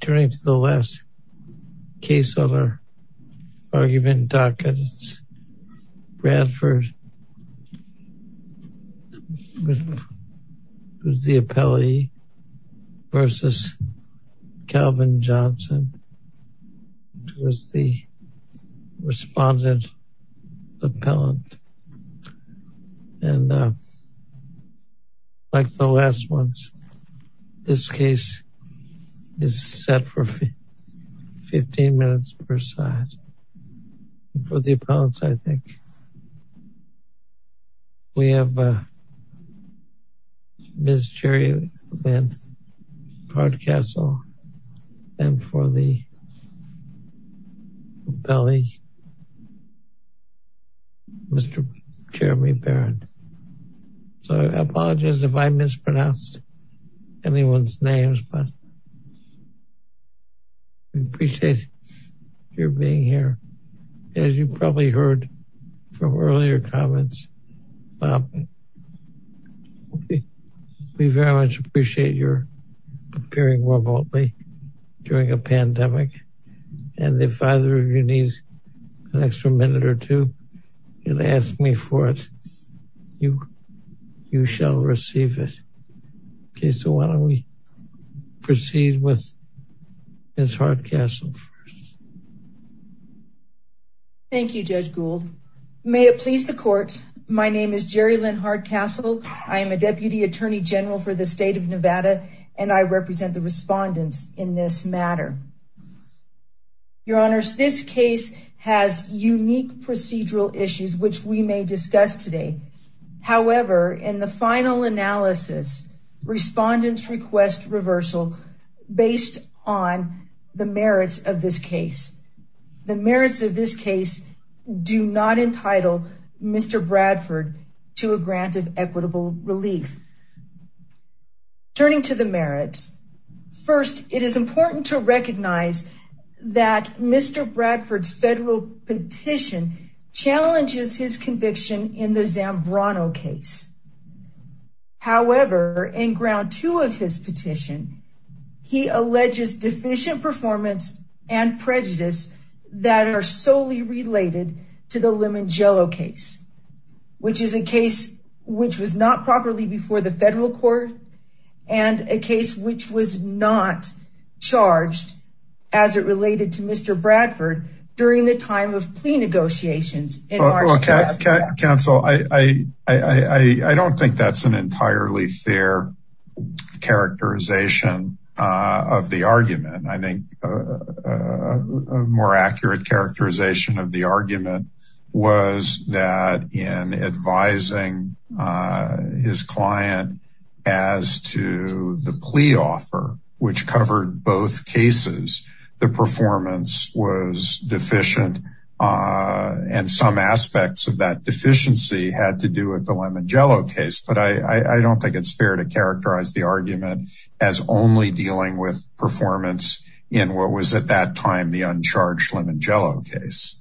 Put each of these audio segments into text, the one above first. Turning to the last case on our argument docket, it's Bradford, who's the appellee v. Calvin is set for 15 minutes per side. For the appellants, I think, we have Ms. Jerry Lynn Cardcastle and for the appellee, Mr. Jeremy Barron. So I apologize if I mispronounced anyone's names, but we appreciate your being here. As you probably heard from earlier comments, we very much appreciate your appearing remotely during a pandemic. And if either of you needs an extra minute or two, you can ask me for it. You shall receive it. Okay, so why don't we proceed with Ms. Cardcastle first. Thank you, Judge Gould. May it please the court, my name is Jerry Lynn Cardcastle. I am a Deputy Attorney General for the state of Nevada, and I represent the respondents in this matter. Your Honors, this case has unique procedural issues, which we may discuss today. However, in the final analysis, respondents request reversal based on the merits of this case. The merits of this case do not entitle Mr. Bradford to a grant of equitable relief. Turning to the merits, first, it is important to recognize that Mr. Bradford's federal petition challenges his conviction in the Zambrano case. However, in ground two of his petition, he alleges deficient performance and prejudice that are solely related to the Limongelo case, which is a case which was not properly before the federal court, and a case which was not charged as it related to Mr. Bradford during the time of plea negotiations. Counsel, I don't think that's an entirely fair characterization of the argument. I think a more accurate characterization of the argument was that in advising his client as to the plea offer, which covered both cases, the performance was deficient, and some aspects of that deficiency had to do with the Limongelo case. But I don't think it's characterizing the argument as only dealing with performance in what was at that time the uncharged Limongelo case.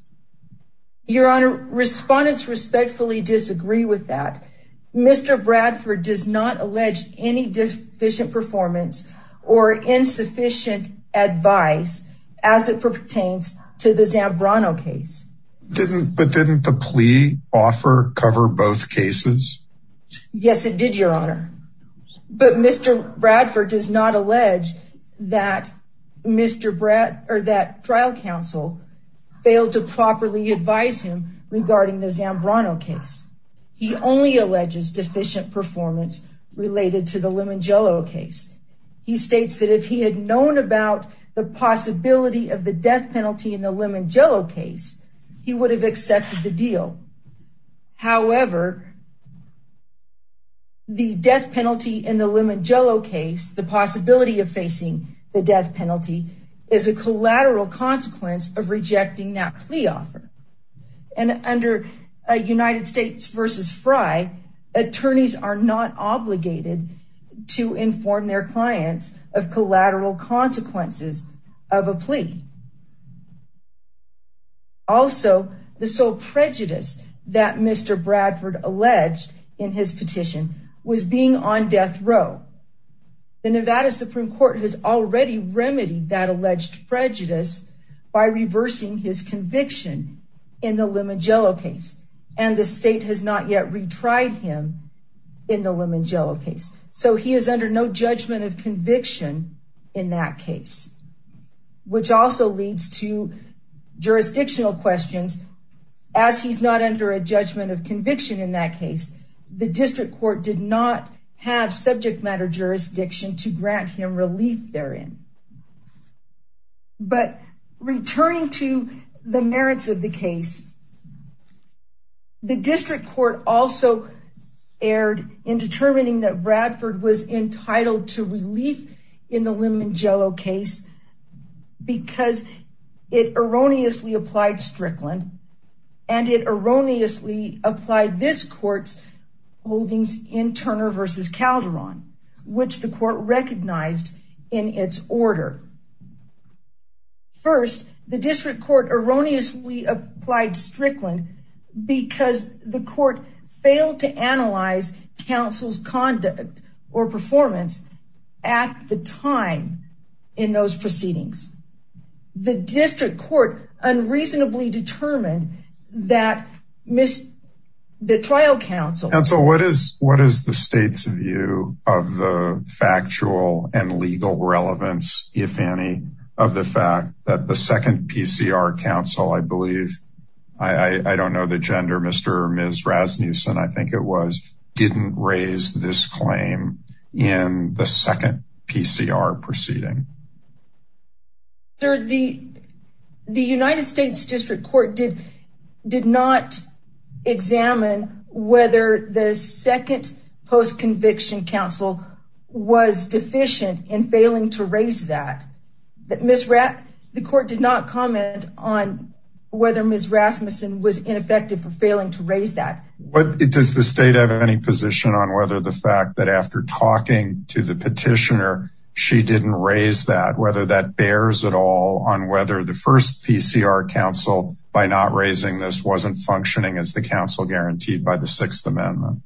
Your Honor, respondents respectfully disagree with that. Mr. Bradford does not allege any deficient performance or insufficient advice as it pertains to the Zambrano case. But didn't the plea offer cover both cases? Yes, it did, Your Honor. But Mr. Bradford does not allege that trial counsel failed to properly advise him regarding the Zambrano case. He only alleges deficient performance related to the Limongelo case. He states that if he had known about the possibility of the death penalty in the Limongelo case, he would have accepted the deal. However, the death penalty in the Limongelo case, the possibility of facing the death penalty, is a collateral consequence of rejecting that plea offer. And under United States v. Frye, attorneys are not obligated to inform their clients of collateral consequences of a plea. Also, the sole prejudice that Mr. Bradford alleged in his petition was being on death row. The Nevada Supreme Court has already remedied that alleged prejudice by reversing his conviction in the Limongelo case. And the state has not yet retried him in the Limongelo case. So he is under judgment of conviction in that case, which also leads to jurisdictional questions. As he's not under a judgment of conviction in that case, the district court did not have subject matter jurisdiction to grant him relief therein. But returning to the merits of the case, the district court also erred in determining that Bradford was entitled to relief in the Limongelo case because it erroneously applied Strickland and it erroneously applied this court's holdings in Turner v. Calderon, which the court recognized in its order. First, the district court erroneously applied Strickland because the court failed to analyze counsel's conduct or performance at the time in those proceedings. The district court unreasonably determined that the trial counsel... Counsel, what is the state's view of the factual and legal relevance, if any, of the fact that the second PCR counsel, I believe, I don't know the gender, Mr. or Ms. Rasmussen, I think it was, didn't raise this claim in the second PCR proceeding? The United States district court did not examine whether the second post-conviction counsel was deficient in failing to raise that. The court did not comment on whether Ms. Rasmussen was ineffective for failing to raise that. Does the state have any position on whether the fact that after talking to the petitioner, she didn't raise that, whether that bears at all on whether the first PCR counsel, by not raising this, wasn't functioning as the counsel guaranteed by the petitioner?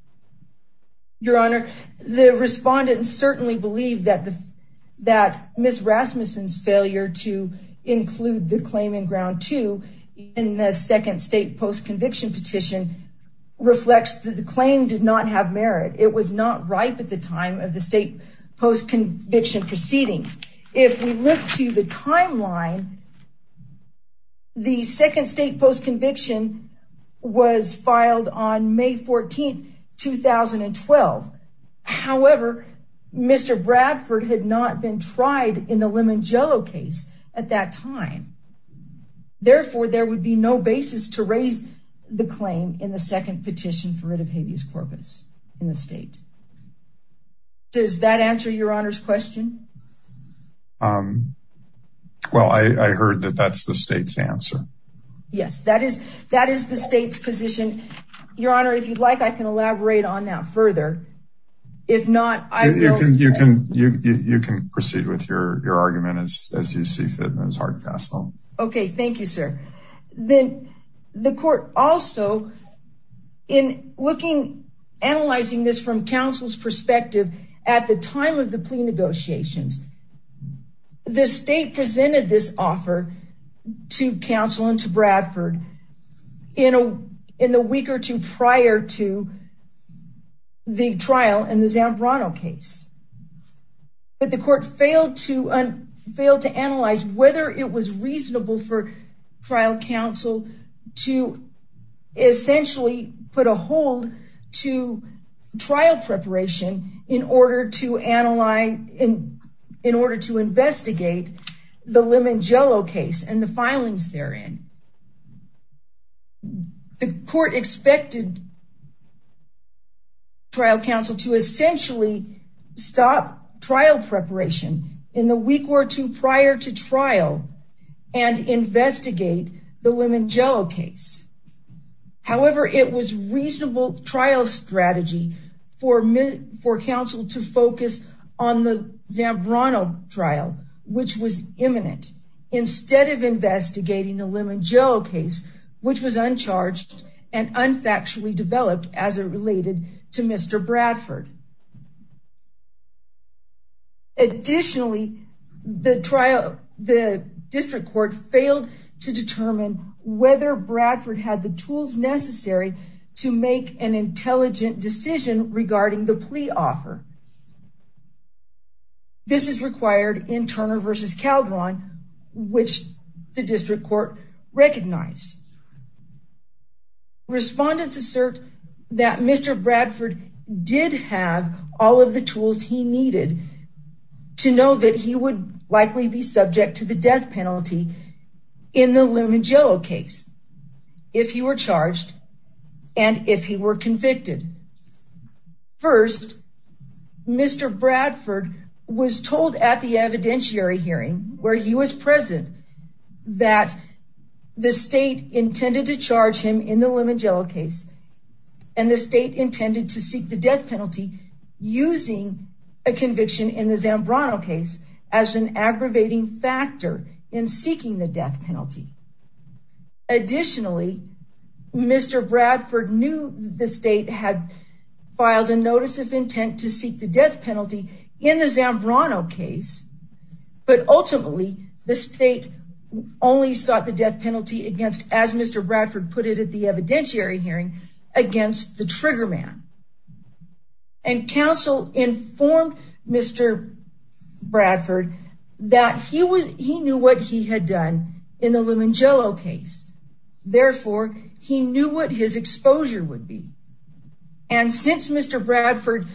I certainly believe that Ms. Rasmussen's failure to include the claim in ground two in the second state post-conviction petition reflects that the claim did not have merit. It was not ripe at the time of the state post-conviction proceeding. If we look to the Mr. Bradford had not been tried in the Limongello case at that time, therefore, there would be no basis to raise the claim in the second petition for rid of habeas corpus in the state. Does that answer your honor's question? Well, I heard that that's the state's answer. Yes, that is the state's position. Your honor, I can elaborate on that further. You can proceed with your argument as you see fit. Okay, thank you, sir. The court also, in looking, analyzing this from counsel's perspective, at the time of the plea negotiations, the state presented this offer to counsel and to Bradford in a week or two prior to the trial in the Zambrano case. But the court failed to analyze whether it was reasonable for trial counsel to essentially put a hold to trial preparation in order to investigate the Limongello case and the filings therein. The court expected trial counsel to essentially stop trial preparation in the week or two prior to trial and investigate the Limongello case. However, it was reasonable trial strategy for counsel to focus on the Zambrano trial, which was imminent. Instead of investigating the which was uncharged and unfactually developed as it related to Mr. Bradford. Additionally, the district court failed to determine whether Bradford had the tools necessary to make an intelligent decision regarding the plea offer. This is required in Turner v. Calderon, which the district court recognized. Respondents assert that Mr. Bradford did have all of the tools he needed to know that he would likely be subject to the death penalty in the Limongello case if he were charged and if he were Mr. Bradford was told at the evidentiary hearing where he was present that the state intended to charge him in the Limongello case and the state intended to seek the death penalty using a conviction in the Zambrano case as an aggravating factor in seeking the death penalty. Additionally, Mr. Bradford knew the state had filed a notice of intent to seek the death penalty in the Zambrano case, but ultimately the state only sought the death penalty against, as Mr. Bradford put it at the evidentiary hearing, against the trigger man. And counsel informed Mr. Bradford that he knew what he had done in the Limongello case. Therefore, he knew what his exposure would be. And since Mr. Bradford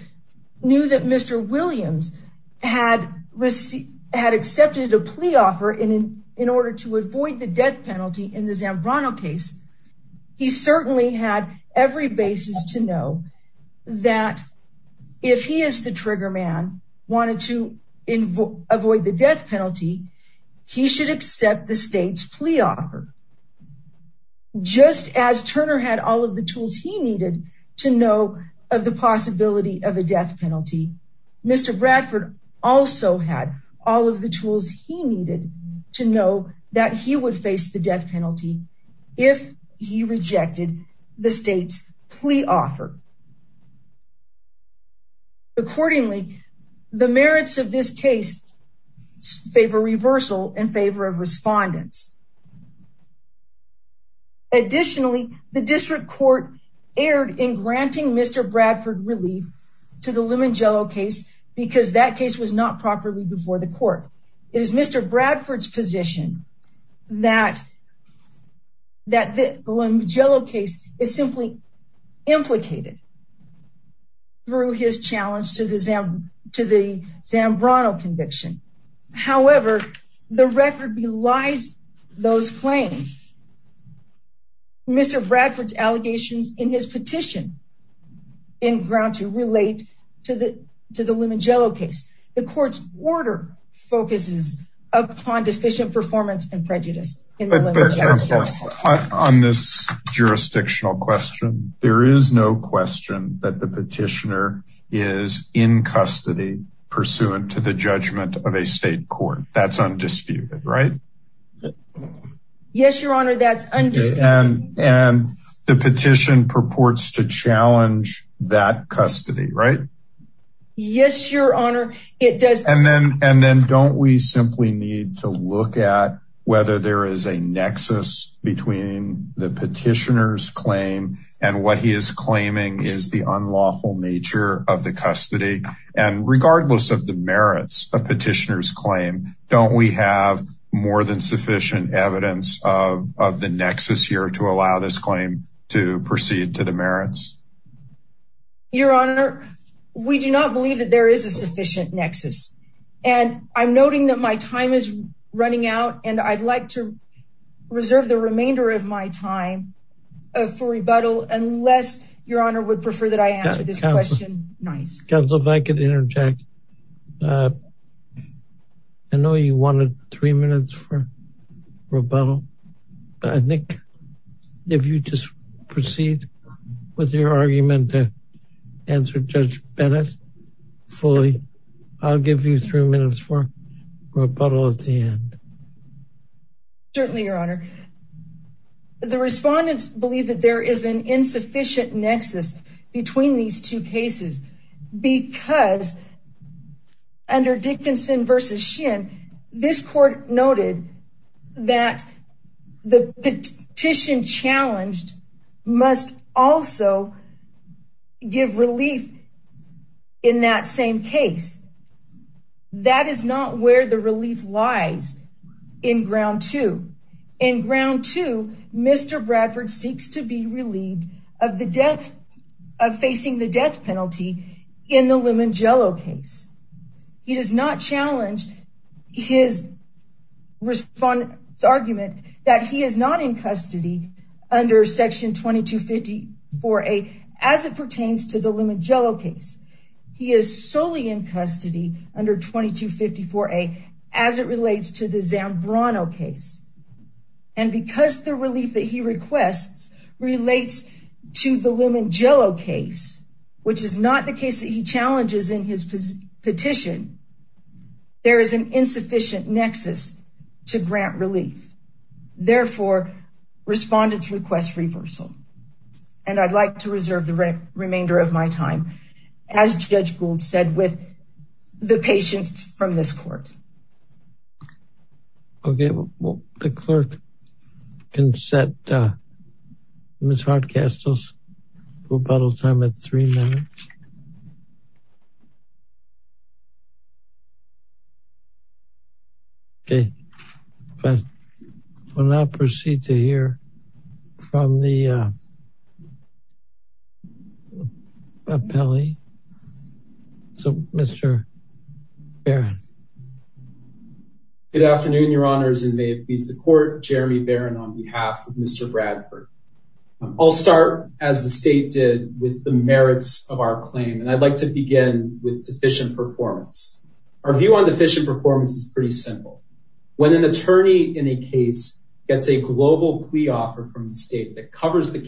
knew that Mr. Williams had accepted a plea offer in order to avoid the death penalty in the Zambrano case, he certainly had every basis to know that if he as the trigger man wanted to avoid the death penalty, he should accept the state's plea offer. Just as Turner had all of the tools he needed to know of the possibility of a death penalty, Mr. Bradford also had all of the tools he needed to know that he would face the death offer. Accordingly, the merits of this case favor reversal in favor of respondents. Additionally, the district court erred in granting Mr. Bradford relief to the Limongello case because that case was not properly before the court. It is Mr. Bradford's position that that the Limongello case is simply implicated through his challenge to the Zambrano conviction. However, the record belies those claims. Mr. Bradford's allegations in his petition in ground to relate to the Limongello case. The court's order focuses upon deficient performance and prejudice. On this jurisdictional question, there is no question that the petitioner is in custody pursuant to the judgment of a state court. That's undisputed, right? Yes, your honor, that's undisputed. And the petition purports to challenge that custody, right? Yes, your honor. And then don't we simply need to look at whether there is a nexus between the petitioner's claim and what he is claiming is the unlawful nature of the custody. And regardless of the merits of petitioner's claim, don't we have more than sufficient evidence of we do not believe that there is a sufficient nexus. And I'm noting that my time is running out and I'd like to reserve the remainder of my time for rebuttal unless your honor would prefer that I answer this question nice. Counselor, if I could interject. I know you wanted three minutes for rebuttal. I think if you just proceed with your argument to answer Judge Bennett fully, I'll give you three minutes for rebuttal at the end. Certainly, your honor. The respondents believe that there is an insufficient nexus between these two cases because under Dickinson v. Shin, this court noted that the petition challenged must also give relief in that same case. That is not where the relief lies in ground two. In ground two, Mr. Bradford seeks to be relieved of facing the death penalty in the Limongello case. He does not challenge his argument that he is not in custody under section 2254A as it pertains to the Limongello case. He is solely in custody under 2254A as it relates to the Zambrano case. And because the relief that he requests relates to the Limongello case, which is not the case that he challenges in his petition, there is an insufficient nexus to grant relief. Therefore, respondents request reversal and I'd like to reserve the remainder of my time as Judge Gould said with the patients from this court. Okay, the clerk can set Ms. Hardcastle's rebuttal time at three minutes. Okay, we'll now proceed to hear from the attorney. So, Mr. Barron. Good afternoon, your honors, and may it please the court, Jeremy Barron on behalf of Mr. Bradford. I'll start as the state did with the merits of our claim and I'd like to begin with deficient performance. Our view on deficient performance is pretty simple. When an attorney in a case gets a global plea offer from the state that covers the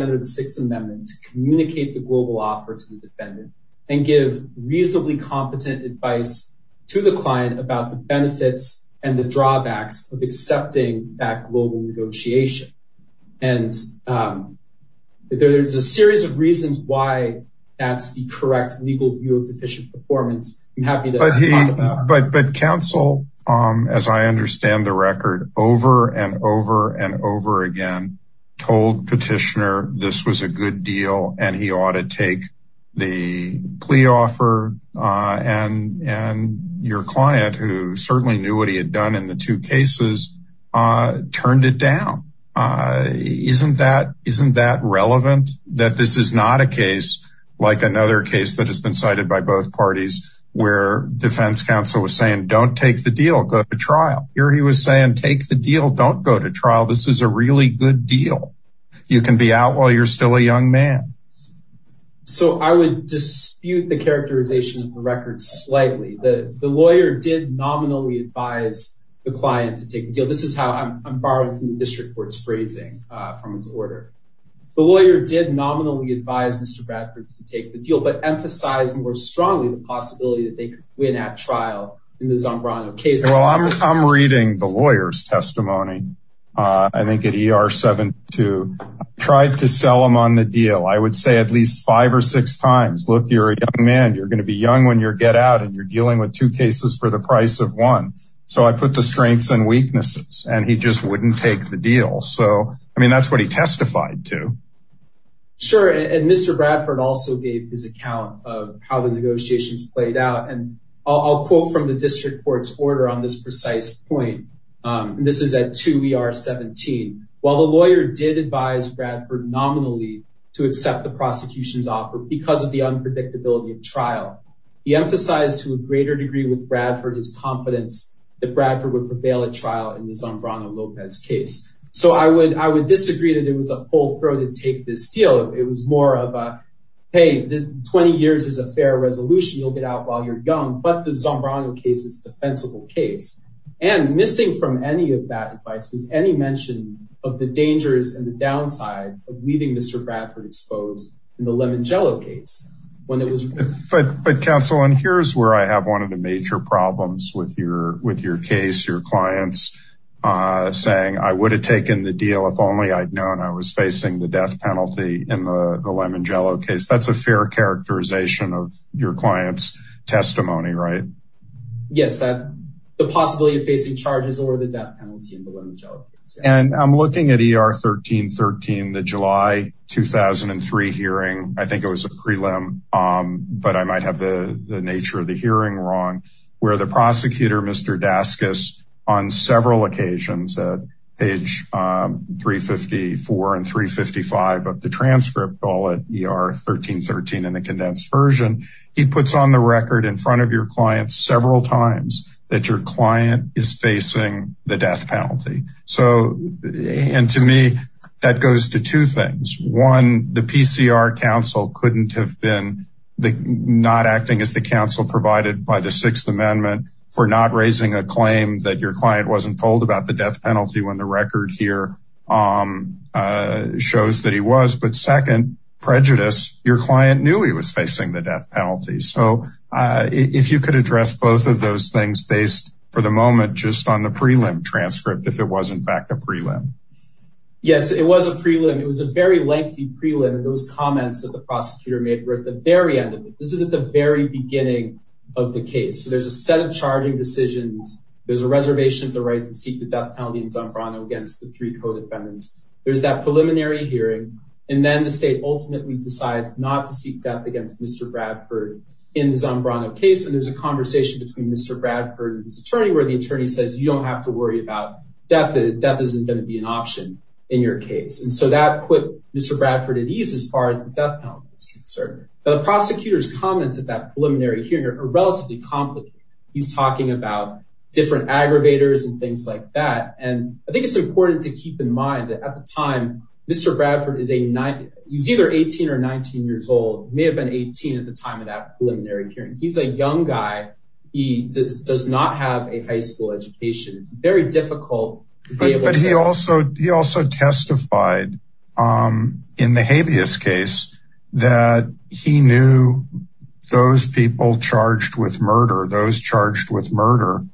under the Sixth Amendment to communicate the global offer to the defendant and give reasonably competent advice to the client about the benefits and the drawbacks of accepting that global negotiation. And there's a series of reasons why that's the correct legal view of deficient performance. But counsel, as I understand the record over and over and over again, told petitioner this was a good deal and he ought to take the plea offer and your client, who certainly knew what he had done in the two cases, turned it down. Isn't that relevant? That this is not a case like another case that has been cited by both parties where defense counsel was saying, don't take the deal, go to trial. Here he was saying, take the deal, don't go to trial. This is a really good deal. You can be out while you're still a young man. So I would dispute the characterization of the record slightly. The lawyer did nominally advise the client to take the deal. This is how I'm borrowing from the district court's phrasing from his order. The lawyer did nominally advise Mr. Bradford to take the deal, but emphasize more strongly the possibility that they could win at trial in the Zambrano case. Well, I'm reading the lawyer's testimony. I think at ER 72, tried to sell him on the deal. I would say at least five or six times, look, you're a young man, you're going to be young when you're get out and you're dealing with two cases for the price of one. So I put the strengths and weaknesses and he just wouldn't take the deal. So, I mean, that's what he testified to. Sure. And Mr. Bradford also gave his account of how the negotiations played out. And I'll quote from the district court's order on this precise point. This is at two ER 17. While the lawyer did advise Bradford nominally to accept the prosecution's offer because of the unpredictability of trial, he emphasized to a greater degree with Bradford his confidence that Bradford would prevail at trial in the Zambrano-Lopez case. So I would disagree that it was a full-throated take this deal. It was more of a, hey, 20 years is a fair resolution. You'll get out while you're young, but the Zambrano case is a defensible case. And missing from any of that advice was any mention of the dangers and the downsides of leaving Mr. Bradford exposed in the Lemongello case. But counsel, and here's where I have one of the major problems with your case, your clients saying, I would have taken the deal if only I'd known I was facing the death penalty in the Lemongello case. That's a fair characterization of your client's testimony, right? Yes, the possibility of facing charges over the death penalty in the Lemongello case. And I'm looking at ER 1313, the July 2003 hearing. I think it was a prelim, but I might have the nature of the hearing wrong, where the prosecutor, Mr. Daskus, on several occasions at page 354 and 355 of the transcript, all at ER 1313 in the condensed version, he puts on the record in front of your clients several times that your client is facing the death penalty. So, and to me, that goes to two things. One, the PCR counsel couldn't have been not acting as the counsel provided by the Sixth Amendment for not raising a claim that your client wasn't told about the death penalty when the record here shows that he was. But second, prejudice, your client knew he was facing the death penalty. So, if you could address both of those things based for the moment, just on the prelim transcript, if it was in fact a prelim. Yes, it was a prelim. It was a very lengthy prelim. Those comments that the prosecutor made were at the very end of it. This is at the very beginning of the case. So, there's a set of charging decisions. There's a reservation of the right to seek the death penalty in Zambrano against the three co-defendants. There's that preliminary hearing. And then the state ultimately decides not to seek death against Mr. Bradford in the Zambrano case. And there's a conversation between Mr. Bradford and his attorney where the attorney says, you don't have to worry about death. Death isn't going to be an option in your case. And so that put Mr. Bradford at ease as far as the death penalty is concerned. But the prosecutor's comments at that preliminary hearing are relatively complicated. He's talking about different aggravators and things like that. And I think it's important to keep in mind that at the time, Mr. Bradford is either 18 or 19 years old. He may have been 18 at the time of that preliminary hearing. He's a young guy. He does not have a death penalty. He testified in the habeas case that he knew those people charged with murder, those charged with murder,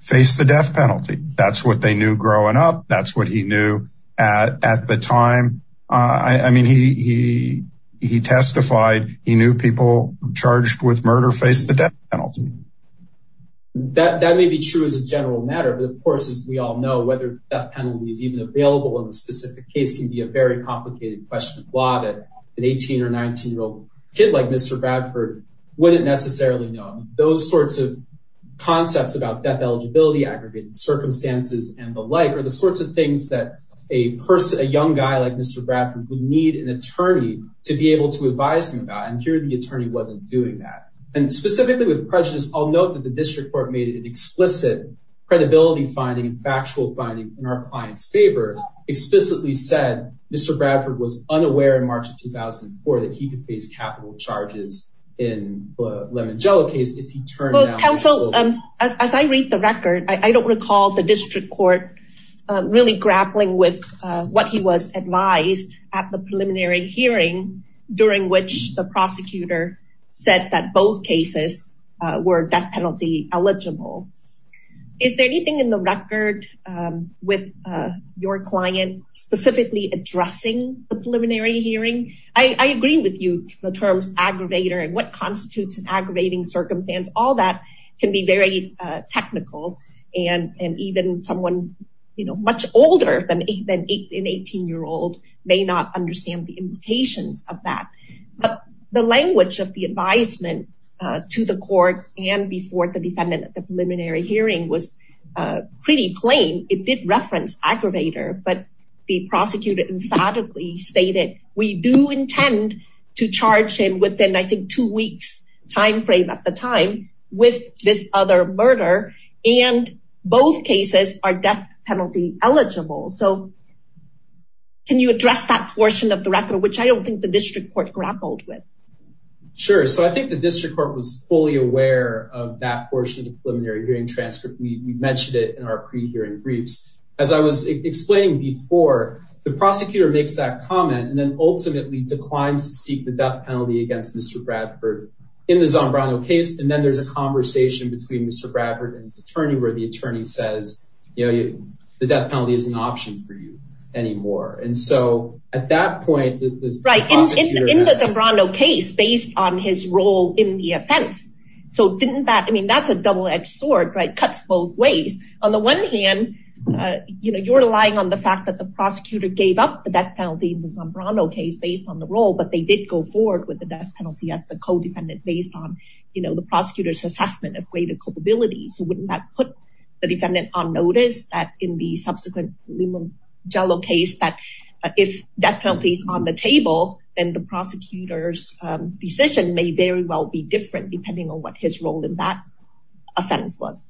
faced the death penalty. That's what they knew growing up. That's what he knew at the time. I mean, he testified he knew people charged with murder faced the death penalty. That may be true as a general matter. But of course, as we all know, whether the death penalty is even available in the specific case can be a very complicated question of law that an 18 or 19 year old kid like Mr. Bradford wouldn't necessarily know. Those sorts of concepts about death eligibility, aggregated circumstances, and the like are the sorts of things that a young guy like Mr. Bradford would need an attorney to be able to advise him about. And here the attorney wasn't doing that. And specifically with prejudice, I'll note that District Court made an explicit credibility finding, factual finding in our client's favor, explicitly said Mr. Bradford was unaware in March of 2004 that he could face capital charges in the Lemangelo case if he turned him out. So as I read the record, I don't recall the District Court really grappling with what he was advised at the preliminary hearing during which the prosecutor said that both cases were death penalty eligible. Is there anything in the record with your client specifically addressing the preliminary hearing? I agree with you, the terms aggravator and what constitutes an aggravating circumstance, all that can be very technical. And even someone much older than an 18 year old may not understand the implications of that. But the language of the advisement to the court and before the defendant at the preliminary hearing was pretty plain. It did reference aggravator, but the prosecutor emphatically stated, we do intend to charge him within, I think, two weeks time frame at the time with this other murder. And both cases are death penalty eligible. So can you address that portion of the record, which I don't think the District Court grappled with? Sure. So I think the District Court was fully aware of that portion of the preliminary hearing transcript. We mentioned it in our pre-hearing briefs. As I was explaining before, the prosecutor makes that comment and then ultimately declines to seek the death penalty against Mr. Bradford in the Zombrano case. And then there's a conversation between Mr. Bradford and his attorney where the attorney says, you know, the death penalty is an option for you anymore. And so at that point, the prosecutor... Right. In the Zombrano case, based on his role in the offense. So didn't that, I mean, that's a double edged sword, right? Cuts both ways. On the one hand, you know, you're relying on the fact that the prosecutor gave up the death penalty in the Zombrano case based on the role, but they did go forward with the death penalty as the codependent based on, you know, the prosecutor's assessment of greater culpability. So wouldn't that put the defendant on notice that in the if death penalty is on the table and the prosecutor's decision may very well be different depending on what his role in that offense was.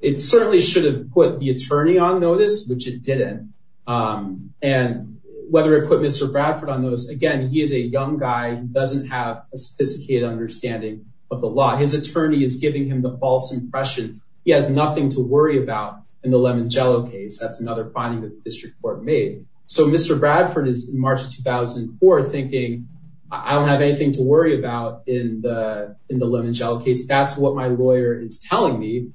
It certainly should have put the attorney on notice, which it didn't. And whether it put Mr. Bradford on notice, again, he is a young guy who doesn't have a sophisticated understanding of the law. His attorney is giving him the false impression. He has nothing to worry about in the Lemangelo case. That's another finding that the district court made. So Mr. Bradford is in March of 2004 thinking, I don't have anything to worry about in the Lemangelo case. That's what my lawyer is telling me.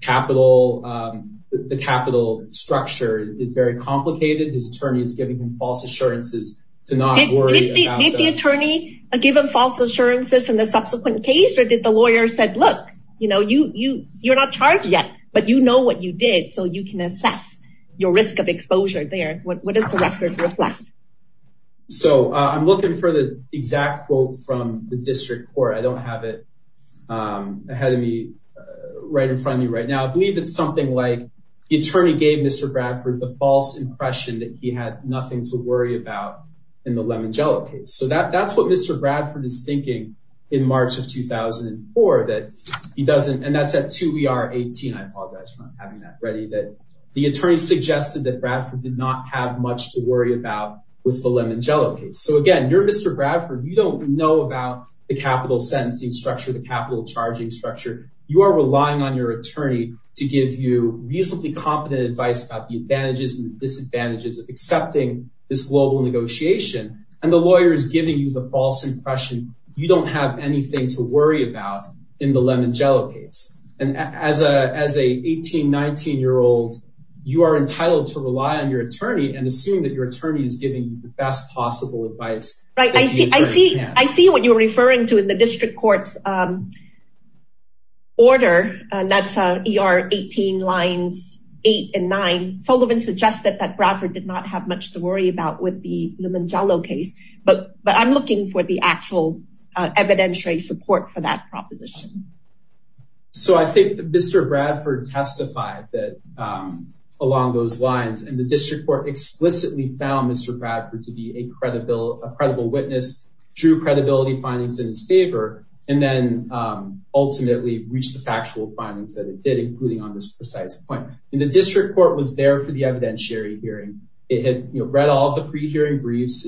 Capital, the capital structure is very complicated. His attorney is giving him false assurances to not worry about- Did the attorney give him false assurances in the subsequent case or did the lawyer said, look, you know, you're not charged yet, but you know what you did, so you can assess your risk of exposure there. What does the record reflect? So I'm looking for the exact quote from the district court. I don't have it ahead of me, right in front of me right now. I believe it's something like the attorney gave Mr. Bradford the false impression that he had nothing to worry about in the Lemangelo case. So that that's what Mr. Bradford is thinking in March of 2004 that he doesn't, and that's at 2 ER 18. I apologize for having that ready, that the attorney suggested that Bradford did not have much to worry about with the Lemangelo case. So again, you're Mr. Bradford. You don't know about the capital sentencing structure, the capital charging structure. You are relying on your attorney to give you reasonably competent advice about the advantages and disadvantages of accepting this global negotiation. And the lawyer is giving you the false impression. You don't have anything to worry about in the Lemangelo case. And as a as a 18, 19 year old, you are entitled to rely on your attorney and assume that your attorney is giving you the best possible advice. Right? I see, I see, I see what you're referring to in the district court's order. And that's ER 18 lines eight and nine Sullivan suggested that Bradford did not have much to worry about with the Lemangelo case. But but I'm looking for the actual evidentiary support for that proposition. So I think Mr. Bradford testified that along those lines, and the district court explicitly found Mr. Bradford to be a credible, a credible witness, true credibility findings in his favor, and then ultimately reached the factual findings that it did, including on this precise point, and the district court was there for the evidentiary hearing. It had read all the hearing briefs,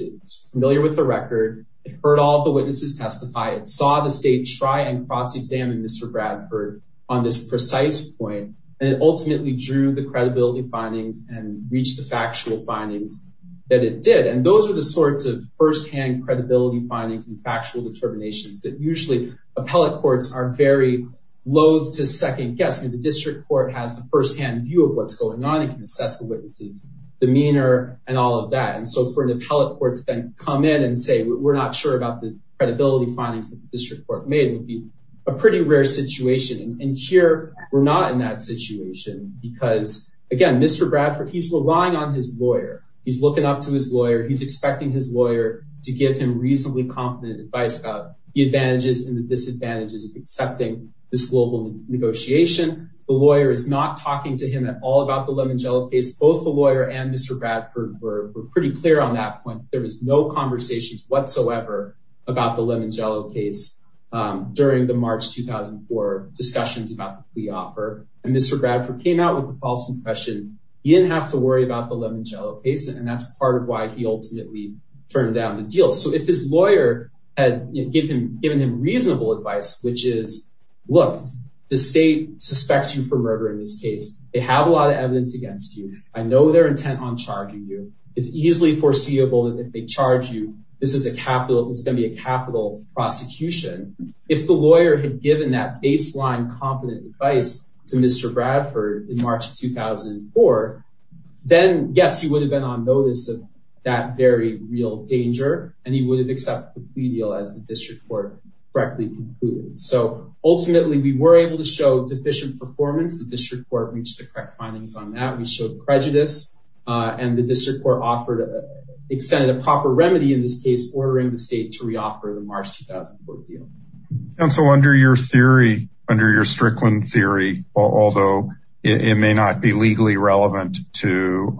familiar with the record, heard all the witnesses testify, it saw the state try and cross examine Mr. Bradford on this precise point, and ultimately drew the credibility findings and reach the factual findings that it did. And those are the sorts of firsthand credibility findings and factual determinations that usually appellate courts are very loath to second guess me the district court has the firsthand view of what's going on and assess the witnesses, demeanor, and all of that. And so for an appellate court to then come in and say, we're not sure about the credibility findings that the district court made would be a pretty rare situation. And here, we're not in that situation. Because, again, Mr. Bradford, he's relying on his lawyer, he's looking up to his lawyer, he's expecting his lawyer to give him reasonably competent advice about the advantages and the disadvantages of accepting this global negotiation. The lawyer is not talking to him at all about the Lemangelo case, both the lawyer and Mr. Bradford were pretty clear on that point, there was no conversations whatsoever about the Lemangelo case. During the March 2004 discussions about the offer, and Mr. Bradford came out with the false impression, you didn't have to worry about the Lemangelo case. And that's part of why he ultimately turned down the deal. So if his lawyer had given given him reasonable advice, which is, look, the state suspects you for murder in this I know their intent on charging you, it's easily foreseeable that if they charge you, this is a capital, it's gonna be a capital prosecution. If the lawyer had given that baseline competent advice to Mr. Bradford in March 2004, then yes, he would have been on notice of that very real danger. And he would have accepted the plea deal as the district court correctly concluded. So ultimately, we were able to show deficient performance, the district court reached the correct findings on that we showed prejudice. And the district court offered extended a proper remedy in this case, ordering the state to reoffer the March 2004 deal. And so under your theory, under your Strickland theory, although it may not be legally relevant to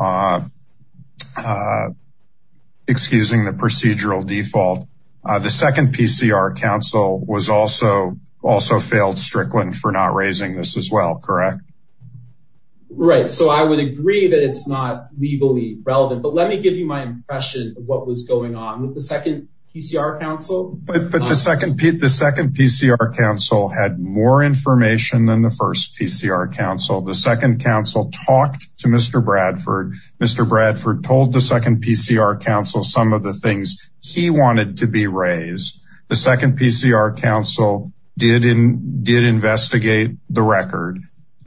excusing the procedural default, the second PCR council was also also failed Strickland for not raising this as well, correct? Right, so I would agree that it's not legally relevant. But let me give you my impression of what was going on with the second PCR council. But the second, the second PCR council had more information than the first PCR council, the second council talked to Mr. Bradford, Mr. Bradford told the second PCR council some of the the record.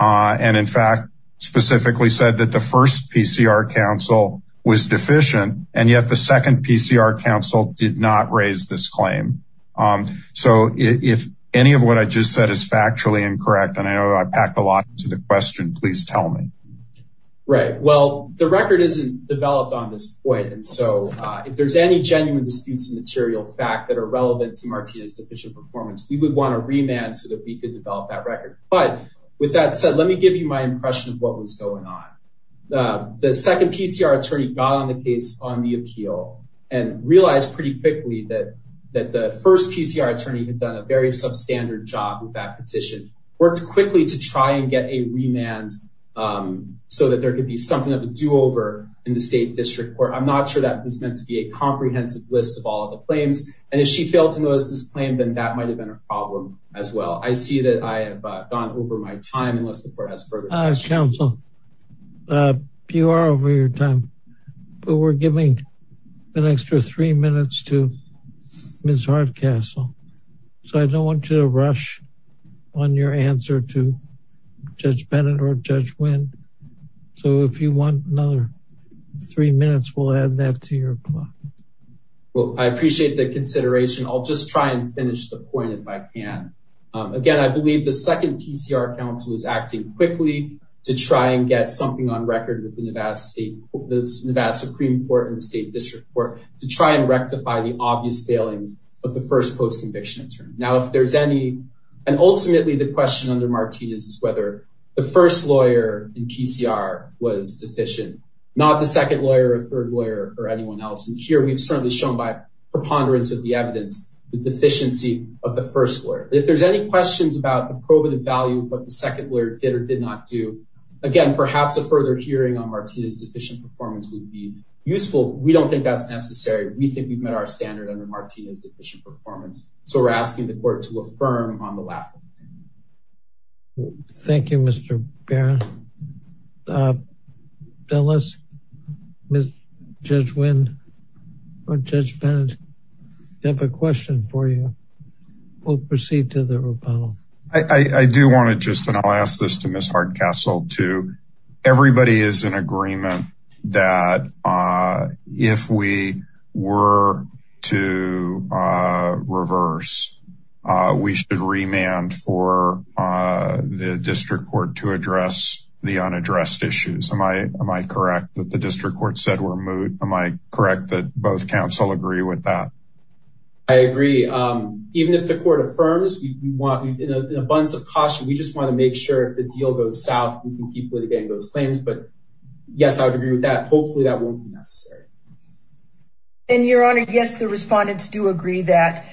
And in fact, specifically said that the first PCR council was deficient. And yet the second PCR council did not raise this claim. So if any of what I just said is factually incorrect, and I packed a lot to the question, please tell me. Right? Well, the record isn't developed on this point. And so if there's any genuine disputes of material fact that are relevant to Martinez deficient performance, we would want to remand so that we could develop that record. But with that said, let me give you my impression of what was going on. The second PCR attorney got on the case on the appeal and realized pretty quickly that that the first PCR attorney had done a very substandard job with that petition worked quickly to try and get a remand. So that there could be something of a do over in the state district court. I'm not sure that was meant to be a problem as well. I see that I have gone over my time unless the court has further. As counsel, you are over your time. But we're giving an extra three minutes to Ms. Hardcastle. So I don't want you to rush on your answer to Judge Bennett or Judge Wynn. So if you want another three minutes, we'll add that to your clock. Well, I appreciate the consideration. I'll just try and finish the point if I can. Again, I believe the second PCR counsel is acting quickly to try and get something on record with the Nevada State Supreme Court and the state district court to try and rectify the obvious failings of the first post conviction attorney. Now, if there's any, and ultimately the question under Martinez is whether the first lawyer in PCR was deficient, not the second lawyer, third lawyer or anyone else. And here we've certainly shown by preponderance of the evidence, the deficiency of the first lawyer. If there's any questions about the probative value of what the second lawyer did or did not do, again, perhaps a further hearing on Martinez deficient performance would be useful. We don't think that's necessary. We think we've met our standard under Martinez deficient performance. So we're asking the court to affirm on the lap. Thank you, Mr. Barron. Dulles, Ms. Judge Wind or Judge Bennett, do you have a question for you? We'll proceed to the rebuttal. I do want to just, and I'll ask this to Ms. Hardcastle too. Everybody is in agreement that if we were to reverse, we should remand for the district court to address the unaddressed issues. Am I correct that the district court said we're moot? Am I correct that both council agree with that? I agree. Even if the court affirms, in abundance of caution, we just want to make sure if the deal goes south, we can keep getting those claims. But yes, I would agree with that. Hopefully that won't be necessary. And Your Honor, yes, the respondents do agree that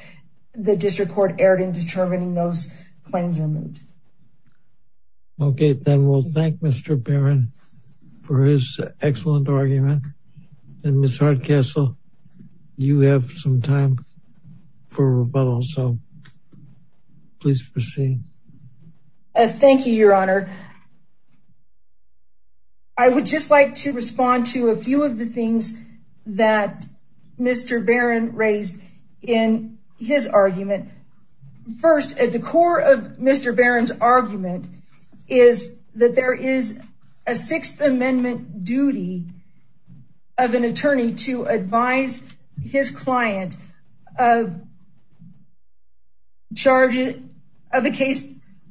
the district court erred in determining those claims are moot. Okay, then we'll thank Mr. Barron for his excellent argument. And Ms. Hardcastle, you have some time for rebuttal. So please proceed. Thank you, Your Honor. I would just like to respond to a few of the things that Mr. Barron raised in his argument. First, at the core of Mr. Barron's argument is that there is a Sixth Amendment duty of an attorney to advise his client of a case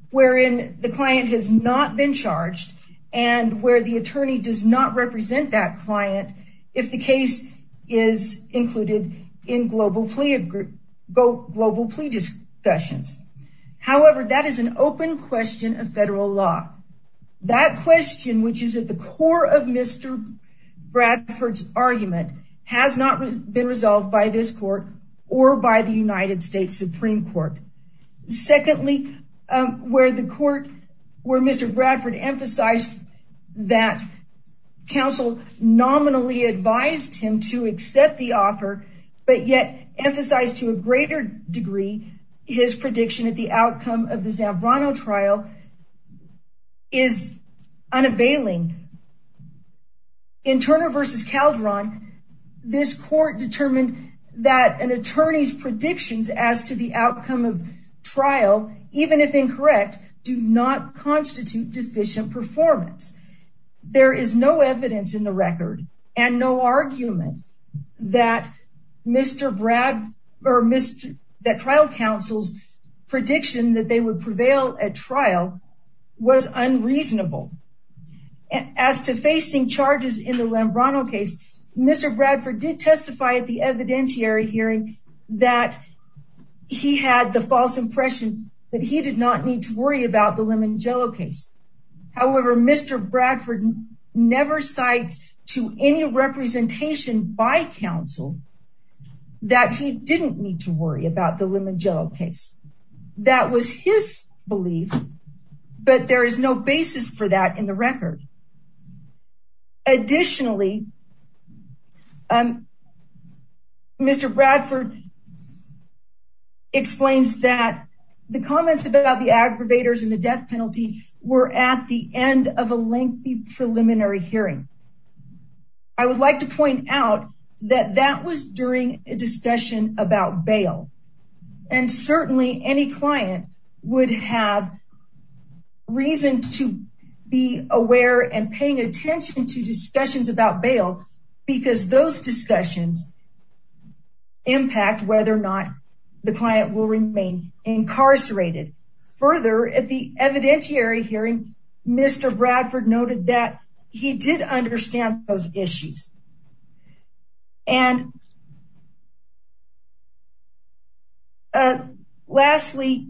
wherein the client has not been charged and where the attorney does not represent that client if the case is included in global plea discussions. However, that is an has not been resolved by this court or by the United States Supreme Court. Secondly, where the court where Mr. Bradford emphasized that counsel nominally advised him to accept the offer, but yet emphasized to a greater degree, his prediction at the outcome of the Zambrano trial is unavailing. In Turner v. Calderon, this court determined that an attorney's predictions as to the outcome of trial, even if incorrect, do not constitute deficient performance. There is no evidence in the record and no argument that trial counsel's prediction that they would prevail at trial was unreasonable. As to facing charges in the Zambrano case, Mr. Bradford did testify at the evidentiary hearing that he had the false impression that he did not need to worry about the Limongiello case. However, Mr. Bradford never cites to any his belief, but there is no basis for that in the record. Additionally, Mr. Bradford explains that the comments about the aggravators and the death penalty were at the end of a lengthy preliminary hearing. I would like to point out that that was during a preliminary hearing. I would like to point out that the client would have reason to be aware and paying attention to discussions about bail because those discussions impact whether or not the client will remain incarcerated. Further, at the evidentiary hearing, Mr. Bradford noted that he did understand those issues. Lastly,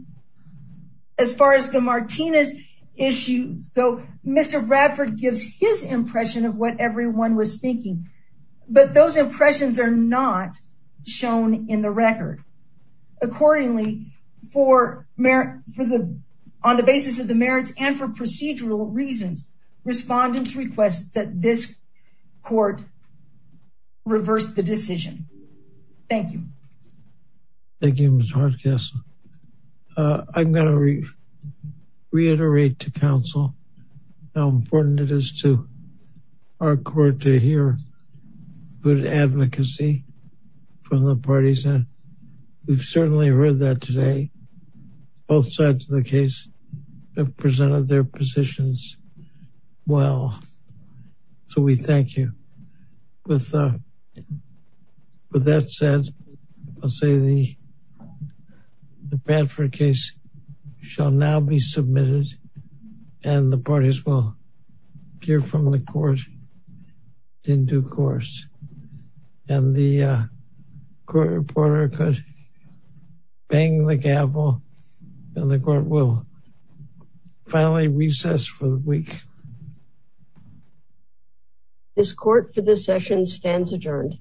as far as the Martinez case goes, Mr. Bradford gives his impression of what everyone was thinking, but those impressions are not shown in the record. Accordingly, on the basis of the merits and for reverse the decision. Thank you. Thank you, Ms. Hardcastle. I'm going to reiterate to counsel how important it is to our court to hear good advocacy from the parties and we've certainly heard that today. Both sides of the case have presented their positions well, so we thank you. With that said, I'll say the Bradford case shall now be submitted and the parties will hear from the court in due course and the court reporter could bang the gavel and the court will finally recess for the week. This court for this session stands adjourned.